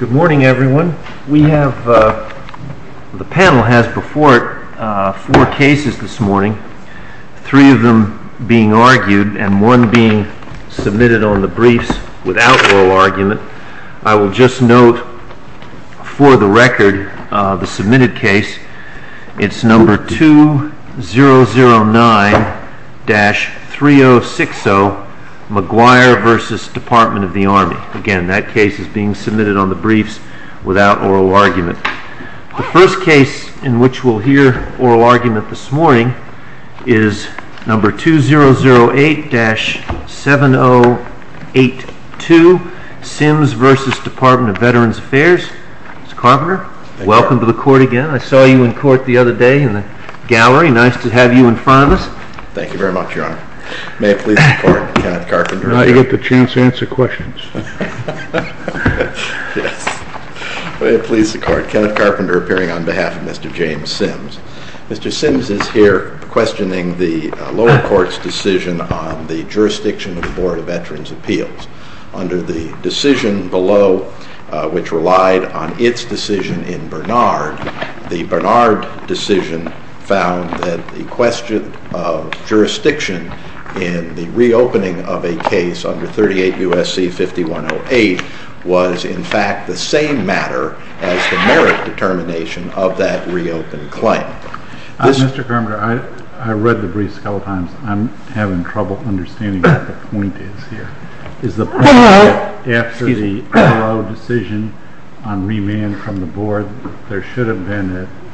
Good morning, everyone. The panel has before it four cases this morning, three of them being argued and one being submitted on the briefs without oral argument. I will just note for the record, the submitted case, it's number 2009-3060, McGuire v. Department of the Army. Again, that case is being submitted on the briefs without oral argument. The first case in which we'll hear oral argument this morning is number 2008-7082, Sims v. Department of Veterans Affairs. Mr. Carpenter, welcome to the court again. I saw you in court the other day in the gallery. Nice to have you in front of us. Thank you very much, Your Honor. May I please support Kenneth Carpenter? Now you get the chance to answer questions. Yes. May I please support Kenneth Carpenter appearing on behalf of Mr. James Sims? Mr. Sims is here questioning the lower court's decision on the jurisdiction of the Board of Veterans' Appeals. Under the decision below, which relied on its decision in Bernard, the Bernard decision found that the question of jurisdiction in the reopening of a case under 38 U.S.C. 5108 was in fact the same matter as the merit determination of that reopened claim. Mr. Carpenter, I read the briefs a couple of times. I'm having trouble understanding what the point is here. Is the point that after the decision on remand from the Board, there should have been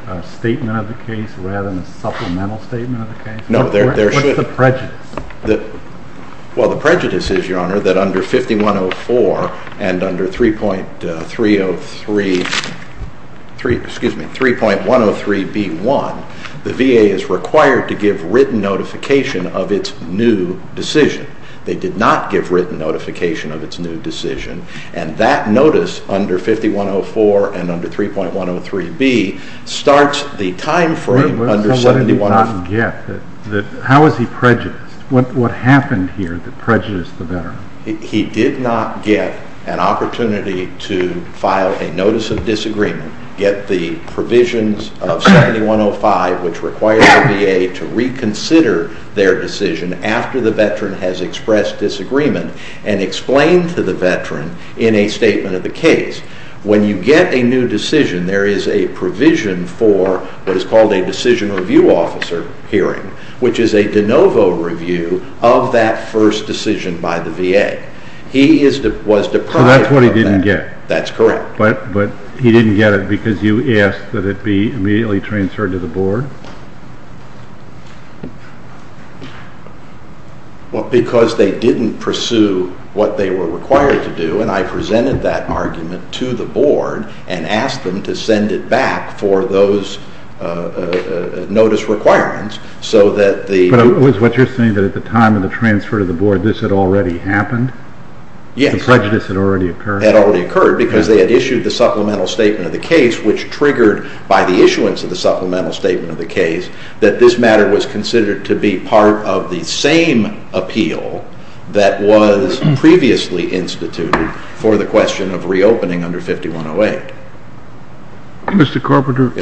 a statement of the case rather than a supplemental statement of the case? No. What's the prejudice? Well, the prejudice is, Your Honor, that under 5104 and under 3.103B.1, the VA is required to give written notification of its new decision. They did not give written notification of its new decision, and that notice under 5104 and under 3.103B starts the time frame under 5104. How is he prejudiced? What happened here that prejudiced the veteran? That's what he didn't get. That's correct. But he didn't get it because you asked that it be immediately transferred to the Board? Well, because they didn't pursue what they were required to do, and I presented that argument to the Board and asked them to send it back for those notice requirements. But it was what you're saying that at the time of the transfer to the Board, this had already happened? Yes. The prejudice had already occurred? It had already occurred because they had issued the supplemental statement of the case, which triggered by the issuance of the supplemental statement of the case, that this matter was considered to be part of the same appeal that was previously instituted for the question of reopening under 5108. Mr. Carpenter,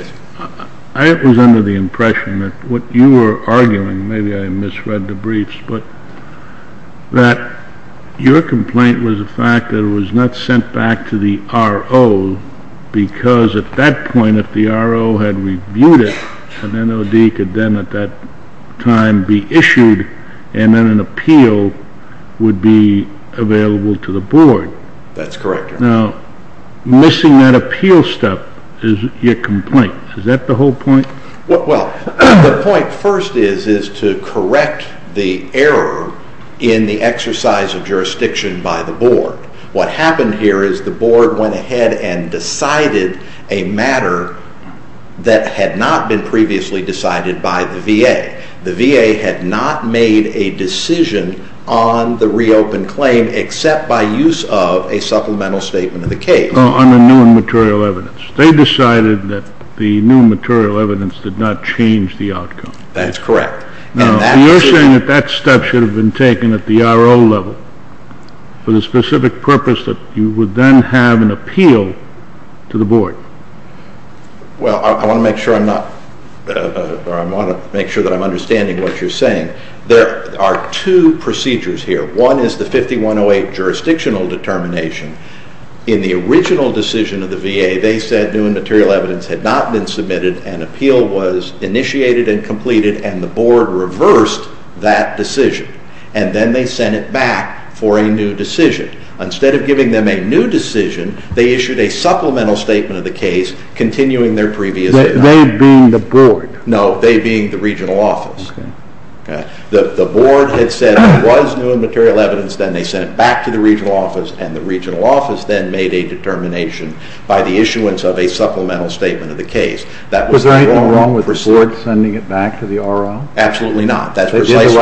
I was under the impression that what you were arguing, maybe I misread the briefs, but that your complaint was the fact that it was not sent back to the RO because at that point if the RO had reviewed it, an NOD could then at that time be issued and then an appeal would be available to the Board. That's correct. Now, missing that appeal step is your complaint. Is that the whole point? On the new material evidence. They decided that the new material evidence did not change the outcome. That's correct. Now, you're saying that that step should have been taken at the RO level for the specific purpose that you would then have an appeal to the Board. Well, I want to make sure that I'm understanding what you're saying. There are two procedures here. One is the 5108 jurisdictional determination. In the original decision of the VA, they said new material evidence had not been submitted, an appeal was initiated and completed, and the Board reversed that decision. And then they sent it back for a new decision. Instead of giving them a new decision, they issued a supplemental statement of the case, continuing their previous… They being the Board. No, they being the regional office. Okay. The Board had said there was new material evidence, then they sent it back to the regional office, and the regional office then made a determination by the issuance of a supplemental statement of the case. Was there anything wrong with the Board sending it back to the RO? Absolutely not. They did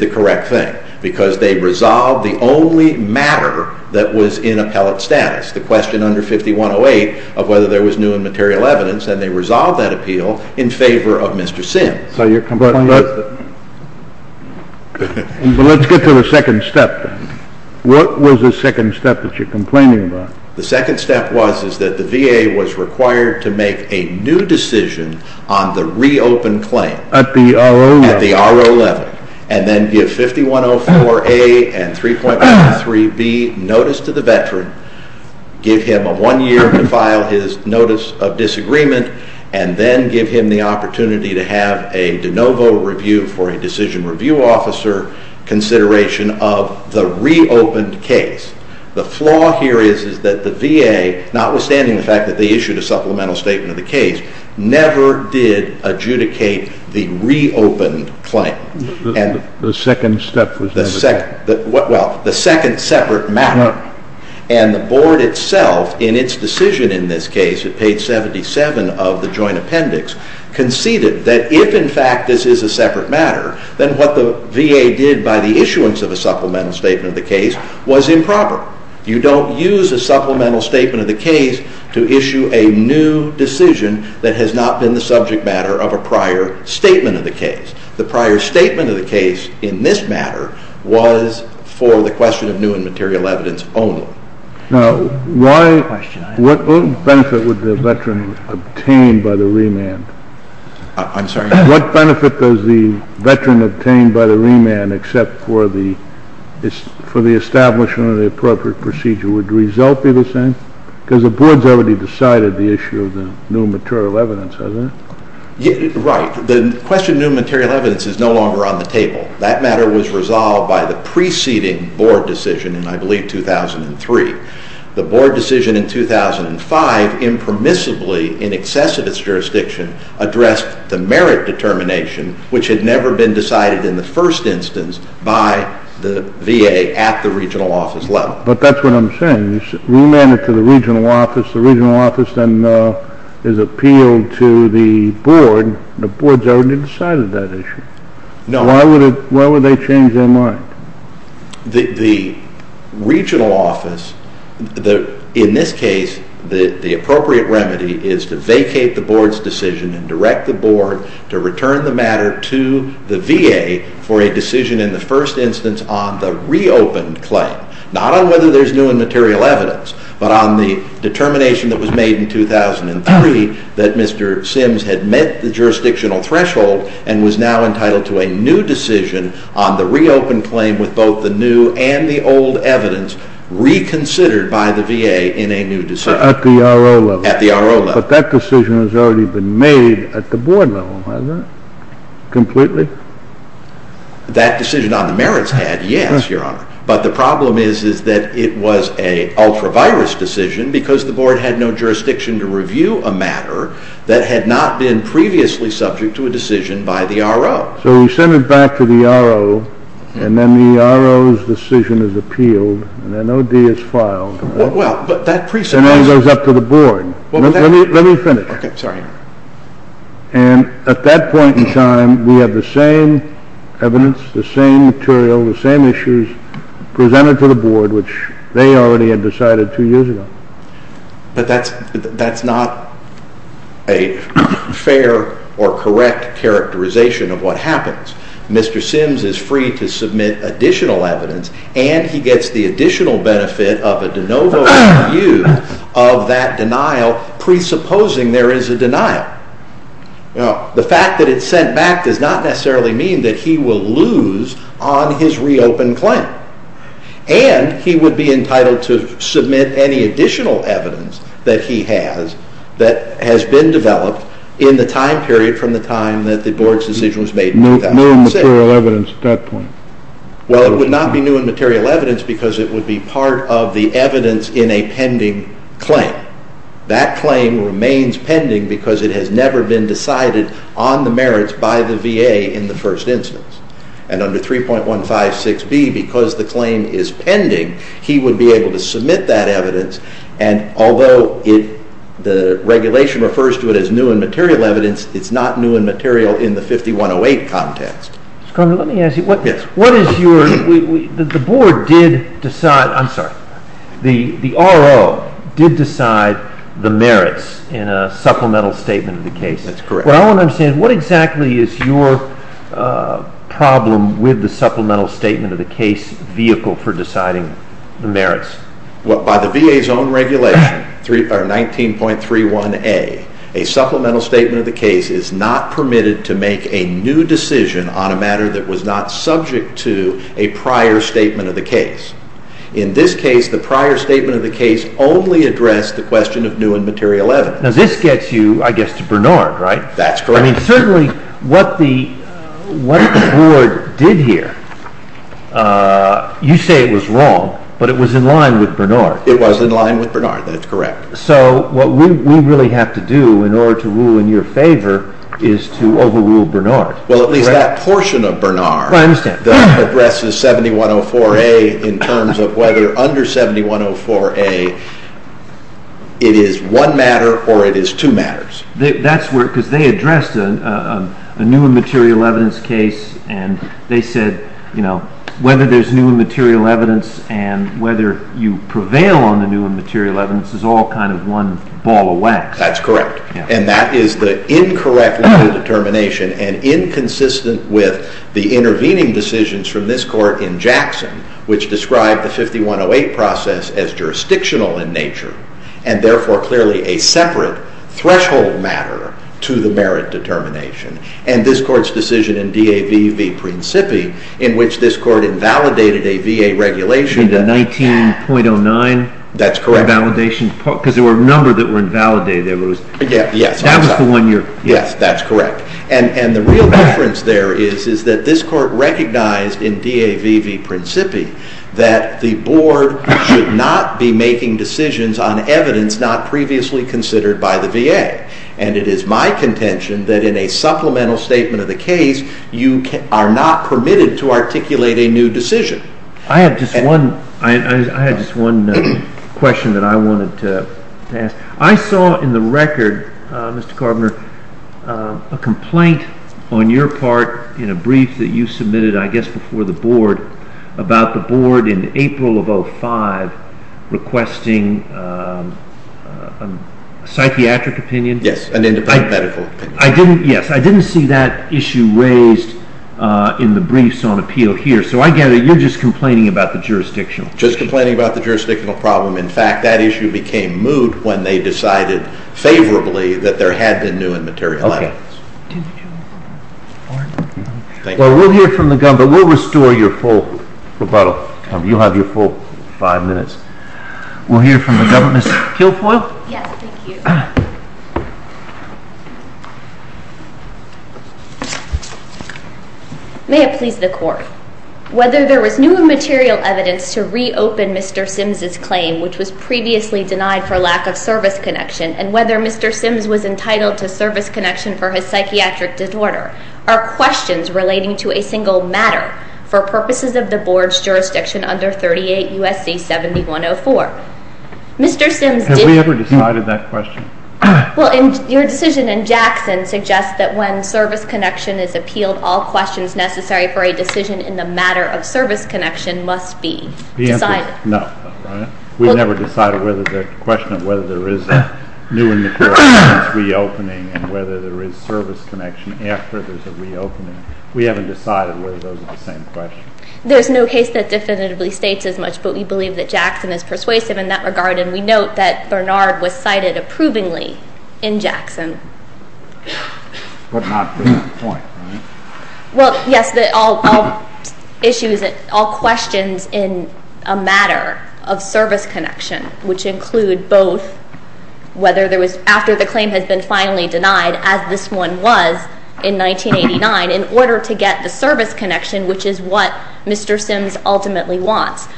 the right thing. Because they resolved the only matter that was in appellate status, the question under 5108 of whether there was new and material evidence, and they resolved that appeal in favor of Mr. Sims. But let's get to the second step. What was the second step that you're complaining about? The second step was that the VA was required to make a new decision on the reopened claim. At the RO level. At the RO level. And then give 5104A and 3.53B notice to the veteran, give him one year to file his notice of disagreement, and then give him the opportunity to have a de novo review for a decision review officer consideration of the reopened case. The flaw here is that the VA, notwithstanding the fact that they issued a supplemental statement of the case, never did adjudicate the reopened claim. The second step was never done. Well, the second separate matter. And the board itself, in its decision in this case, at page 77 of the joint appendix, conceded that if, in fact, this is a separate matter, then what the VA did by the issuance of a supplemental statement of the case was improper. You don't use a supplemental statement of the case to issue a new decision that has not been the subject matter of a prior statement of the case. The prior statement of the case in this matter was for the question of new and material evidence only. Now, what benefit would the veteran obtain by the remand? I'm sorry? What benefit does the veteran obtain by the remand except for the establishment of the appropriate procedure? Would the result be the same? Because the board has already decided the issue of the new material evidence, hasn't it? Right. The question of new material evidence is no longer on the table. That matter was resolved by the preceding board decision in, I believe, 2003. The board decision in 2005 impermissibly, in excess of its jurisdiction, addressed the merit determination, which had never been decided in the first instance by the VA at the regional office level. But that's what I'm saying. You remand it to the regional office. The regional office then is appealed to the board. The board has already decided that issue. No. Why would they change their mind? The regional office, in this case, the appropriate remedy is to vacate the board's decision and direct the board to return the matter to the VA for a decision in the first instance on the reopened claim, not on whether there's new and material evidence, but on the determination that was made in 2003 that Mr. Sims had met the jurisdictional threshold and was now entitled to a new decision on the reopened claim with both the new and the old evidence reconsidered by the VA in a new decision. At the RO level. At the RO level. But that decision has already been made at the board level, hasn't it, completely? That decision on the merits had, yes, Your Honor. But the problem is that it was an ultra-virus decision because the board had no jurisdiction to review a matter that had not been previously subject to a decision by the RO. So we send it back to the RO, and then the RO's decision is appealed, and then O.D. is filed. Well, but that presupposes… And then it goes up to the board. Let me finish. Okay. Sorry. And at that point in time, we have the same evidence, the same material, the same issues presented to the board, which they already had decided two years ago. But that's not a fair or correct characterization of what happens. Mr. Sims is free to submit additional evidence, and he gets the additional benefit of a de novo review of that denial presupposing there is a denial. Now, the fact that it's sent back does not necessarily mean that he will lose on his reopened claim. And he would be entitled to submit any additional evidence that he has that has been developed in the time period from the time that the board's decision was made in 2000. New material evidence at that point? Well, it would not be new and material evidence because it would be part of the evidence in a pending claim. That claim remains pending because it has never been decided on the merits by the VA in the first instance. And under 3.156B, because the claim is pending, he would be able to submit that evidence, and although the regulation refers to it as new and material evidence, it's not new and material in the 5108 context. Mr. Cormier, let me ask you, the RO did decide the merits in a supplemental statement of the case? That's correct. What I want to understand, what exactly is your problem with the supplemental statement of the case vehicle for deciding the merits? By the VA's own regulation, 19.31A, a supplemental statement of the case is not permitted to make a new decision on a matter that was not subject to a prior statement of the case. In this case, the prior statement of the case only addressed the question of new and material evidence. Now this gets you, I guess, to Bernard, right? That's correct. Certainly, what the board did here, you say it was wrong, but it was in line with Bernard. It was in line with Bernard, that's correct. So what we really have to do in order to rule in your favor is to overrule Bernard. Well, at least that portion of Bernard addresses 7104A in terms of whether under 7104A it is one matter or it is two matters. Because they addressed a new and material evidence case, and they said whether there's new and material evidence and whether you prevail on the new and material evidence is all kind of one ball of wax. That's correct. And that is the incorrect limit of determination and inconsistent with the intervening decisions from this court in Jackson, which described the 5108 process as jurisdictional in nature, and therefore clearly a separate threshold matter to the merit determination. And this court's decision in DAV v. Principi, in which this court invalidated a VA regulation. 19.09? That's correct. Because there were a number that were invalidated. Yes, that's correct. And the real difference there is that this court recognized in DAV v. Principi that the board should not be making decisions on evidence not previously considered by the VA. And it is my contention that in a supplemental statement of the case, you are not permitted to articulate a new decision. I have just one question that I wanted to ask. I saw in the record, Mr. Carboner, a complaint on your part in a brief that you submitted, I guess before the board, about the board in April of 2005 requesting a psychiatric opinion. Yes, an independent medical opinion. Yes, I didn't see that issue raised in the briefs on appeal here. So I gather you're just complaining about the jurisdictional issue. Just complaining about the jurisdictional problem. In fact, that issue became moot when they decided favorably that there had been new and material evidence. Okay. Well, we'll hear from the government. We'll restore your full rebuttal. You'll have your full five minutes. We'll hear from the government. Ms. Kilfoyle? Yes, thank you. May it please the Court. Whether there was new and material evidence to reopen Mr. Simms' claim, which was previously denied for lack of service connection, and whether Mr. Simms was entitled to service connection for his psychiatric disorder, are questions relating to a single matter for purposes of the board's jurisdiction under 38 U.S.C. 7104. Mr. Simms... Have we ever decided that question? Well, your decision in Jackson suggests that when service connection is appealed, all questions necessary for a decision in the matter of service connection must be decided. The answer is no. We've never decided whether the question of whether there is new and material evidence reopening and whether there is service connection after there's a reopening. We haven't decided whether those are the same questions. There's no case that definitively states as much, but we believe that Jackson is persuasive in that regard, and we note that Bernard was cited approvingly in Jackson. But not to that point, right? Well, yes, all questions in a matter of service connection, which include both whether there was after the claim has been finally denied, as this one was in 1989, in order to get the service connection, which is what Mr. Simms ultimately wants.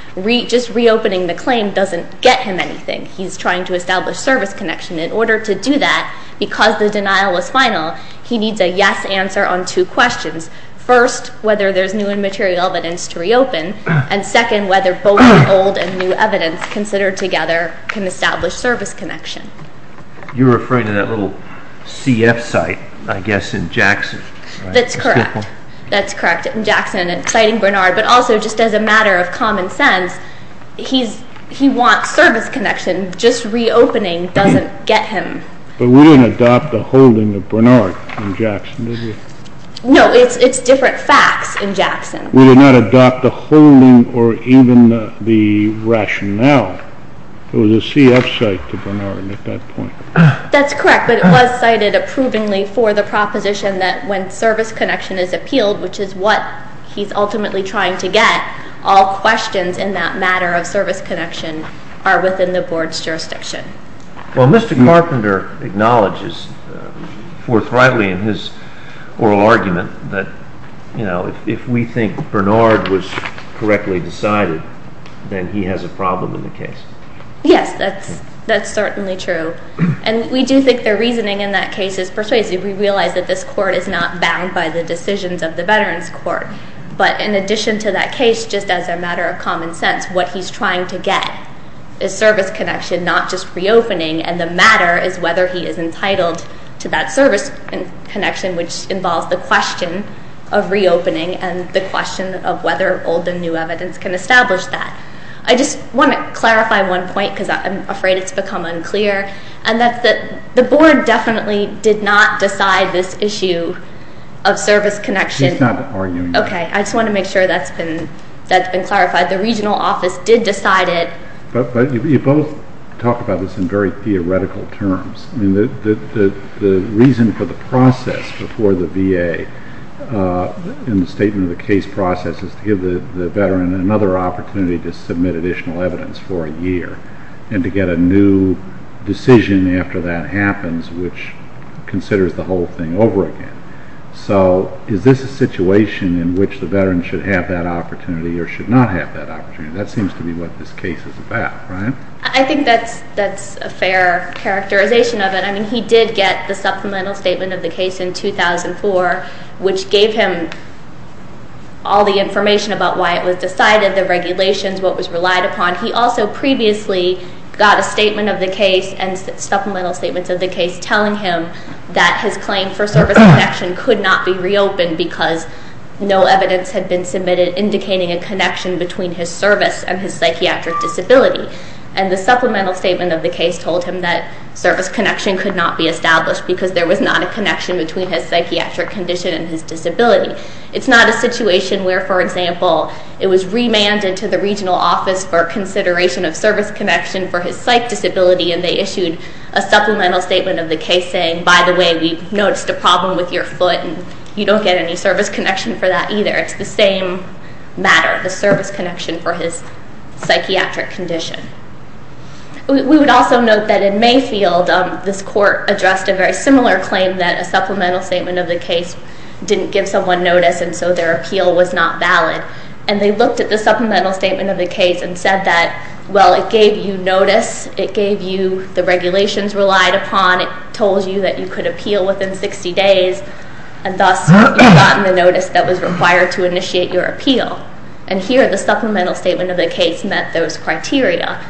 Just reopening the claim doesn't get him anything. He's trying to establish service connection. In order to do that, because the denial was final, he needs a yes answer on two questions. First, whether there's new and material evidence to reopen, and second, whether both old and new evidence considered together can establish service connection. You're referring to that little CF site, I guess, in Jackson, right? That's correct. That's correct, in Jackson, and citing Bernard, but also just as a matter of common sense, he wants service connection. Just reopening doesn't get him. But we didn't adopt the holding of Bernard in Jackson, did we? No, it's different facts in Jackson. We did not adopt the holding or even the rationale. It was a CF site to Bernard at that point. That's correct, but it was cited approvingly for the proposition that when service connection is appealed, which is what he's ultimately trying to get, all questions in that matter of service connection are within the board's jurisdiction. Well, Mr. Carpenter acknowledges forthrightly in his oral argument that, you know, if we think Bernard was correctly decided, then he has a problem in the case. Yes, that's certainly true. And we do think their reasoning in that case is persuasive. We realize that this court is not bound by the decisions of the Veterans Court. But in addition to that case, just as a matter of common sense, what he's trying to get is service connection, not just reopening, and the matter is whether he is entitled to that service connection, which involves the question of reopening and the question of whether old and new evidence can establish that. I just want to clarify one point because I'm afraid it's become unclear, and that's that the board definitely did not decide this issue of service connection. She's not arguing that. Okay, I just want to make sure that's been clarified. The regional office did decide it. But you both talk about this in very theoretical terms. I mean, the reason for the process before the VA in the statement of the case process is to give the veteran another opportunity to submit additional evidence for a year and to get a new decision after that happens which considers the whole thing over again. So is this a situation in which the veteran should have that opportunity or should not have that opportunity? That seems to be what this case is about, right? I think that's a fair characterization of it. I mean, he did get the supplemental statement of the case in 2004, which gave him all the information about why it was decided, the regulations, what was relied upon. He also previously got a statement of the case and supplemental statements of the case telling him that his claim for service connection could not be reopened because no evidence had been submitted indicating a connection between his service and his psychiatric disability. And the supplemental statement of the case told him that service connection could not be established because there was not a connection between his psychiatric condition and his disability. It's not a situation where, for example, it was remanded to the regional office for consideration of service connection for his psych disability and they issued a supplemental statement of the case saying, by the way, we've noticed a problem with your foot and you don't get any service connection for that either. It's the same matter, the service connection for his psychiatric condition. We would also note that in Mayfield, this court addressed a very similar claim that a supplemental statement of the case didn't give someone notice and so their appeal was not valid. And they looked at the supplemental statement of the case and said that, well, it gave you notice, it gave you the regulations relied upon, it told you that you could appeal within 60 days, and here the supplemental statement of the case met those criteria.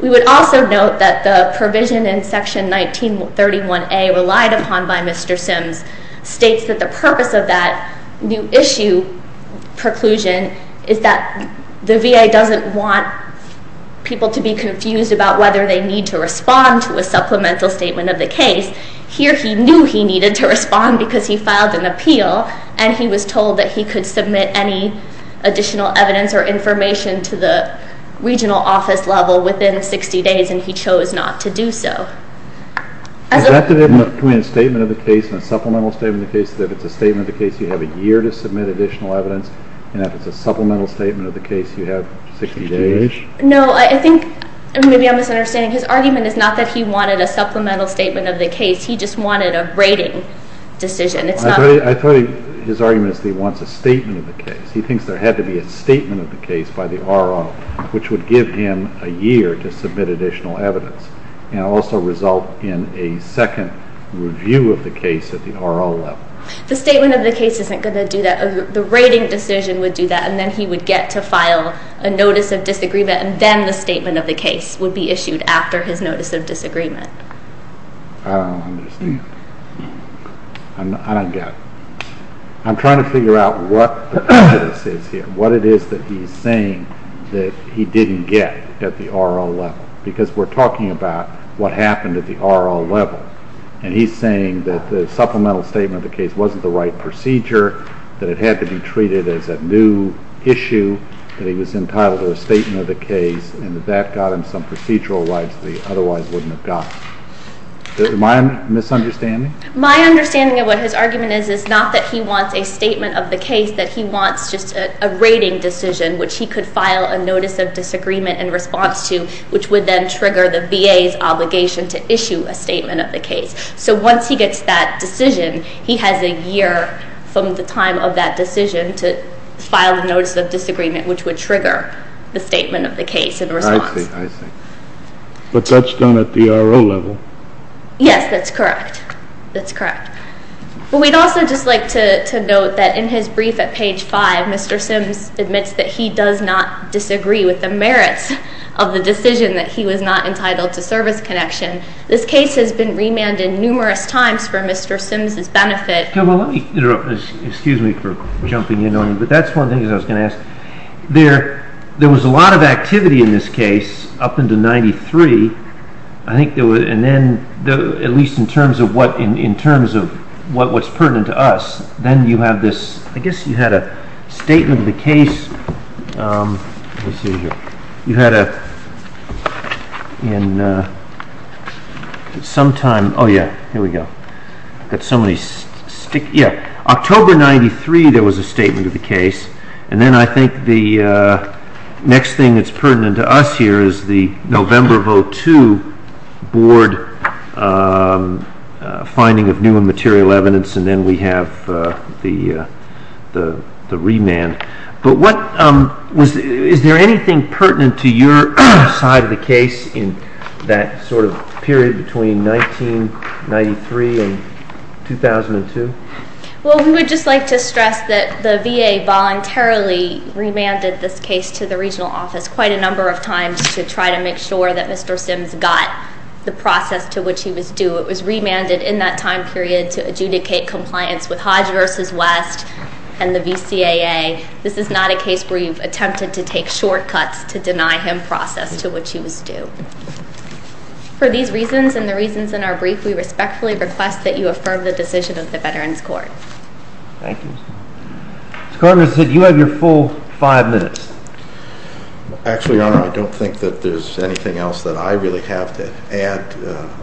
We would also note that the provision in Section 1931A relied upon by Mr. Sims states that the purpose of that new issue preclusion is that the VA doesn't want people to be confused about whether they need to respond to a supplemental statement of the case. Here he knew he needed to respond because he filed an appeal and he was told that he could submit any additional evidence or information to the regional office level within 60 days and he chose not to do so. Is that the difference between a statement of the case and a supplemental statement of the case, that if it's a statement of the case you have a year to submit additional evidence and if it's a supplemental statement of the case you have 60 days? No, I think maybe I'm misunderstanding. His argument is not that he wanted a supplemental statement of the case, he just wanted a rating decision. I thought his argument is that he wants a statement of the case. He thinks there had to be a statement of the case by the RO, which would give him a year to submit additional evidence and also result in a second review of the case at the RO level. The statement of the case isn't going to do that. The rating decision would do that, and then he would get to file a notice of disagreement and then the statement of the case would be issued after his notice of disagreement. I don't understand. I don't get it. I'm trying to figure out what the prejudice is here, what it is that he's saying that he didn't get at the RO level, because we're talking about what happened at the RO level, and he's saying that the supplemental statement of the case wasn't the right procedure, that it had to be treated as a new issue, that he was entitled to a statement of the case and that that got him some procedural rights that he otherwise wouldn't have gotten. Is that my misunderstanding? My understanding of what his argument is is not that he wants a statement of the case, that he wants just a rating decision, which he could file a notice of disagreement in response to, which would then trigger the VA's obligation to issue a statement of the case. So once he gets that decision, he has a year from the time of that decision to file the notice of disagreement, which would trigger the statement of the case in response. I see. I see. But that's done at the RO level. Yes, that's correct. That's correct. But we'd also just like to note that in his brief at page 5, Mr. Sims admits that he does not disagree with the merits of the decision that he was not entitled to service connection. This case has been remanded numerous times for Mr. Sims' benefit. Excuse me for jumping in on you, but that's one thing I was going to ask. There was a lot of activity in this case up until 1993. I think there was, at least in terms of what's pertinent to us, then you have this, I guess you had a statement of the case. October 1993 there was a statement of the case, and then I think the next thing that's pertinent to us here is the November vote 2 board finding of new and material evidence, and then we have the remand. But is there anything pertinent to your side of the case in that sort of period between 1993 and 2002? Well, we would just like to stress that the VA voluntarily remanded this case to the regional office quite a number of times to try to make sure that Mr. Sims got the process to which he was due. It was remanded in that time period to adjudicate compliance with Hodge v. West and the VCAA. This is not a case where you've attempted to take shortcuts to deny him process to which he was due. For these reasons and the reasons in our brief, we respectfully request that you affirm the decision of the Veterans Court. Thank you. Mr. Carter said you have your full five minutes. Actually, Your Honor, I don't think that there's anything else that I really have to add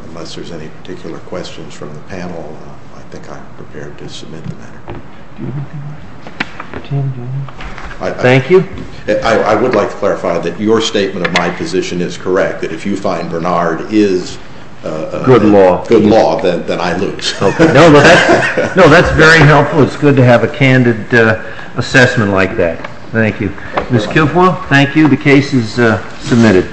unless there's any particular questions from the panel. I think I'm prepared to submit the matter. Thank you. I would like to clarify that your statement of my position is correct, that if you find Bernard is good law, then I lose. No, that's very helpful. It's good to have a candid assessment like that. Thank you. Ms. Kilpoil, thank you. The case is submitted.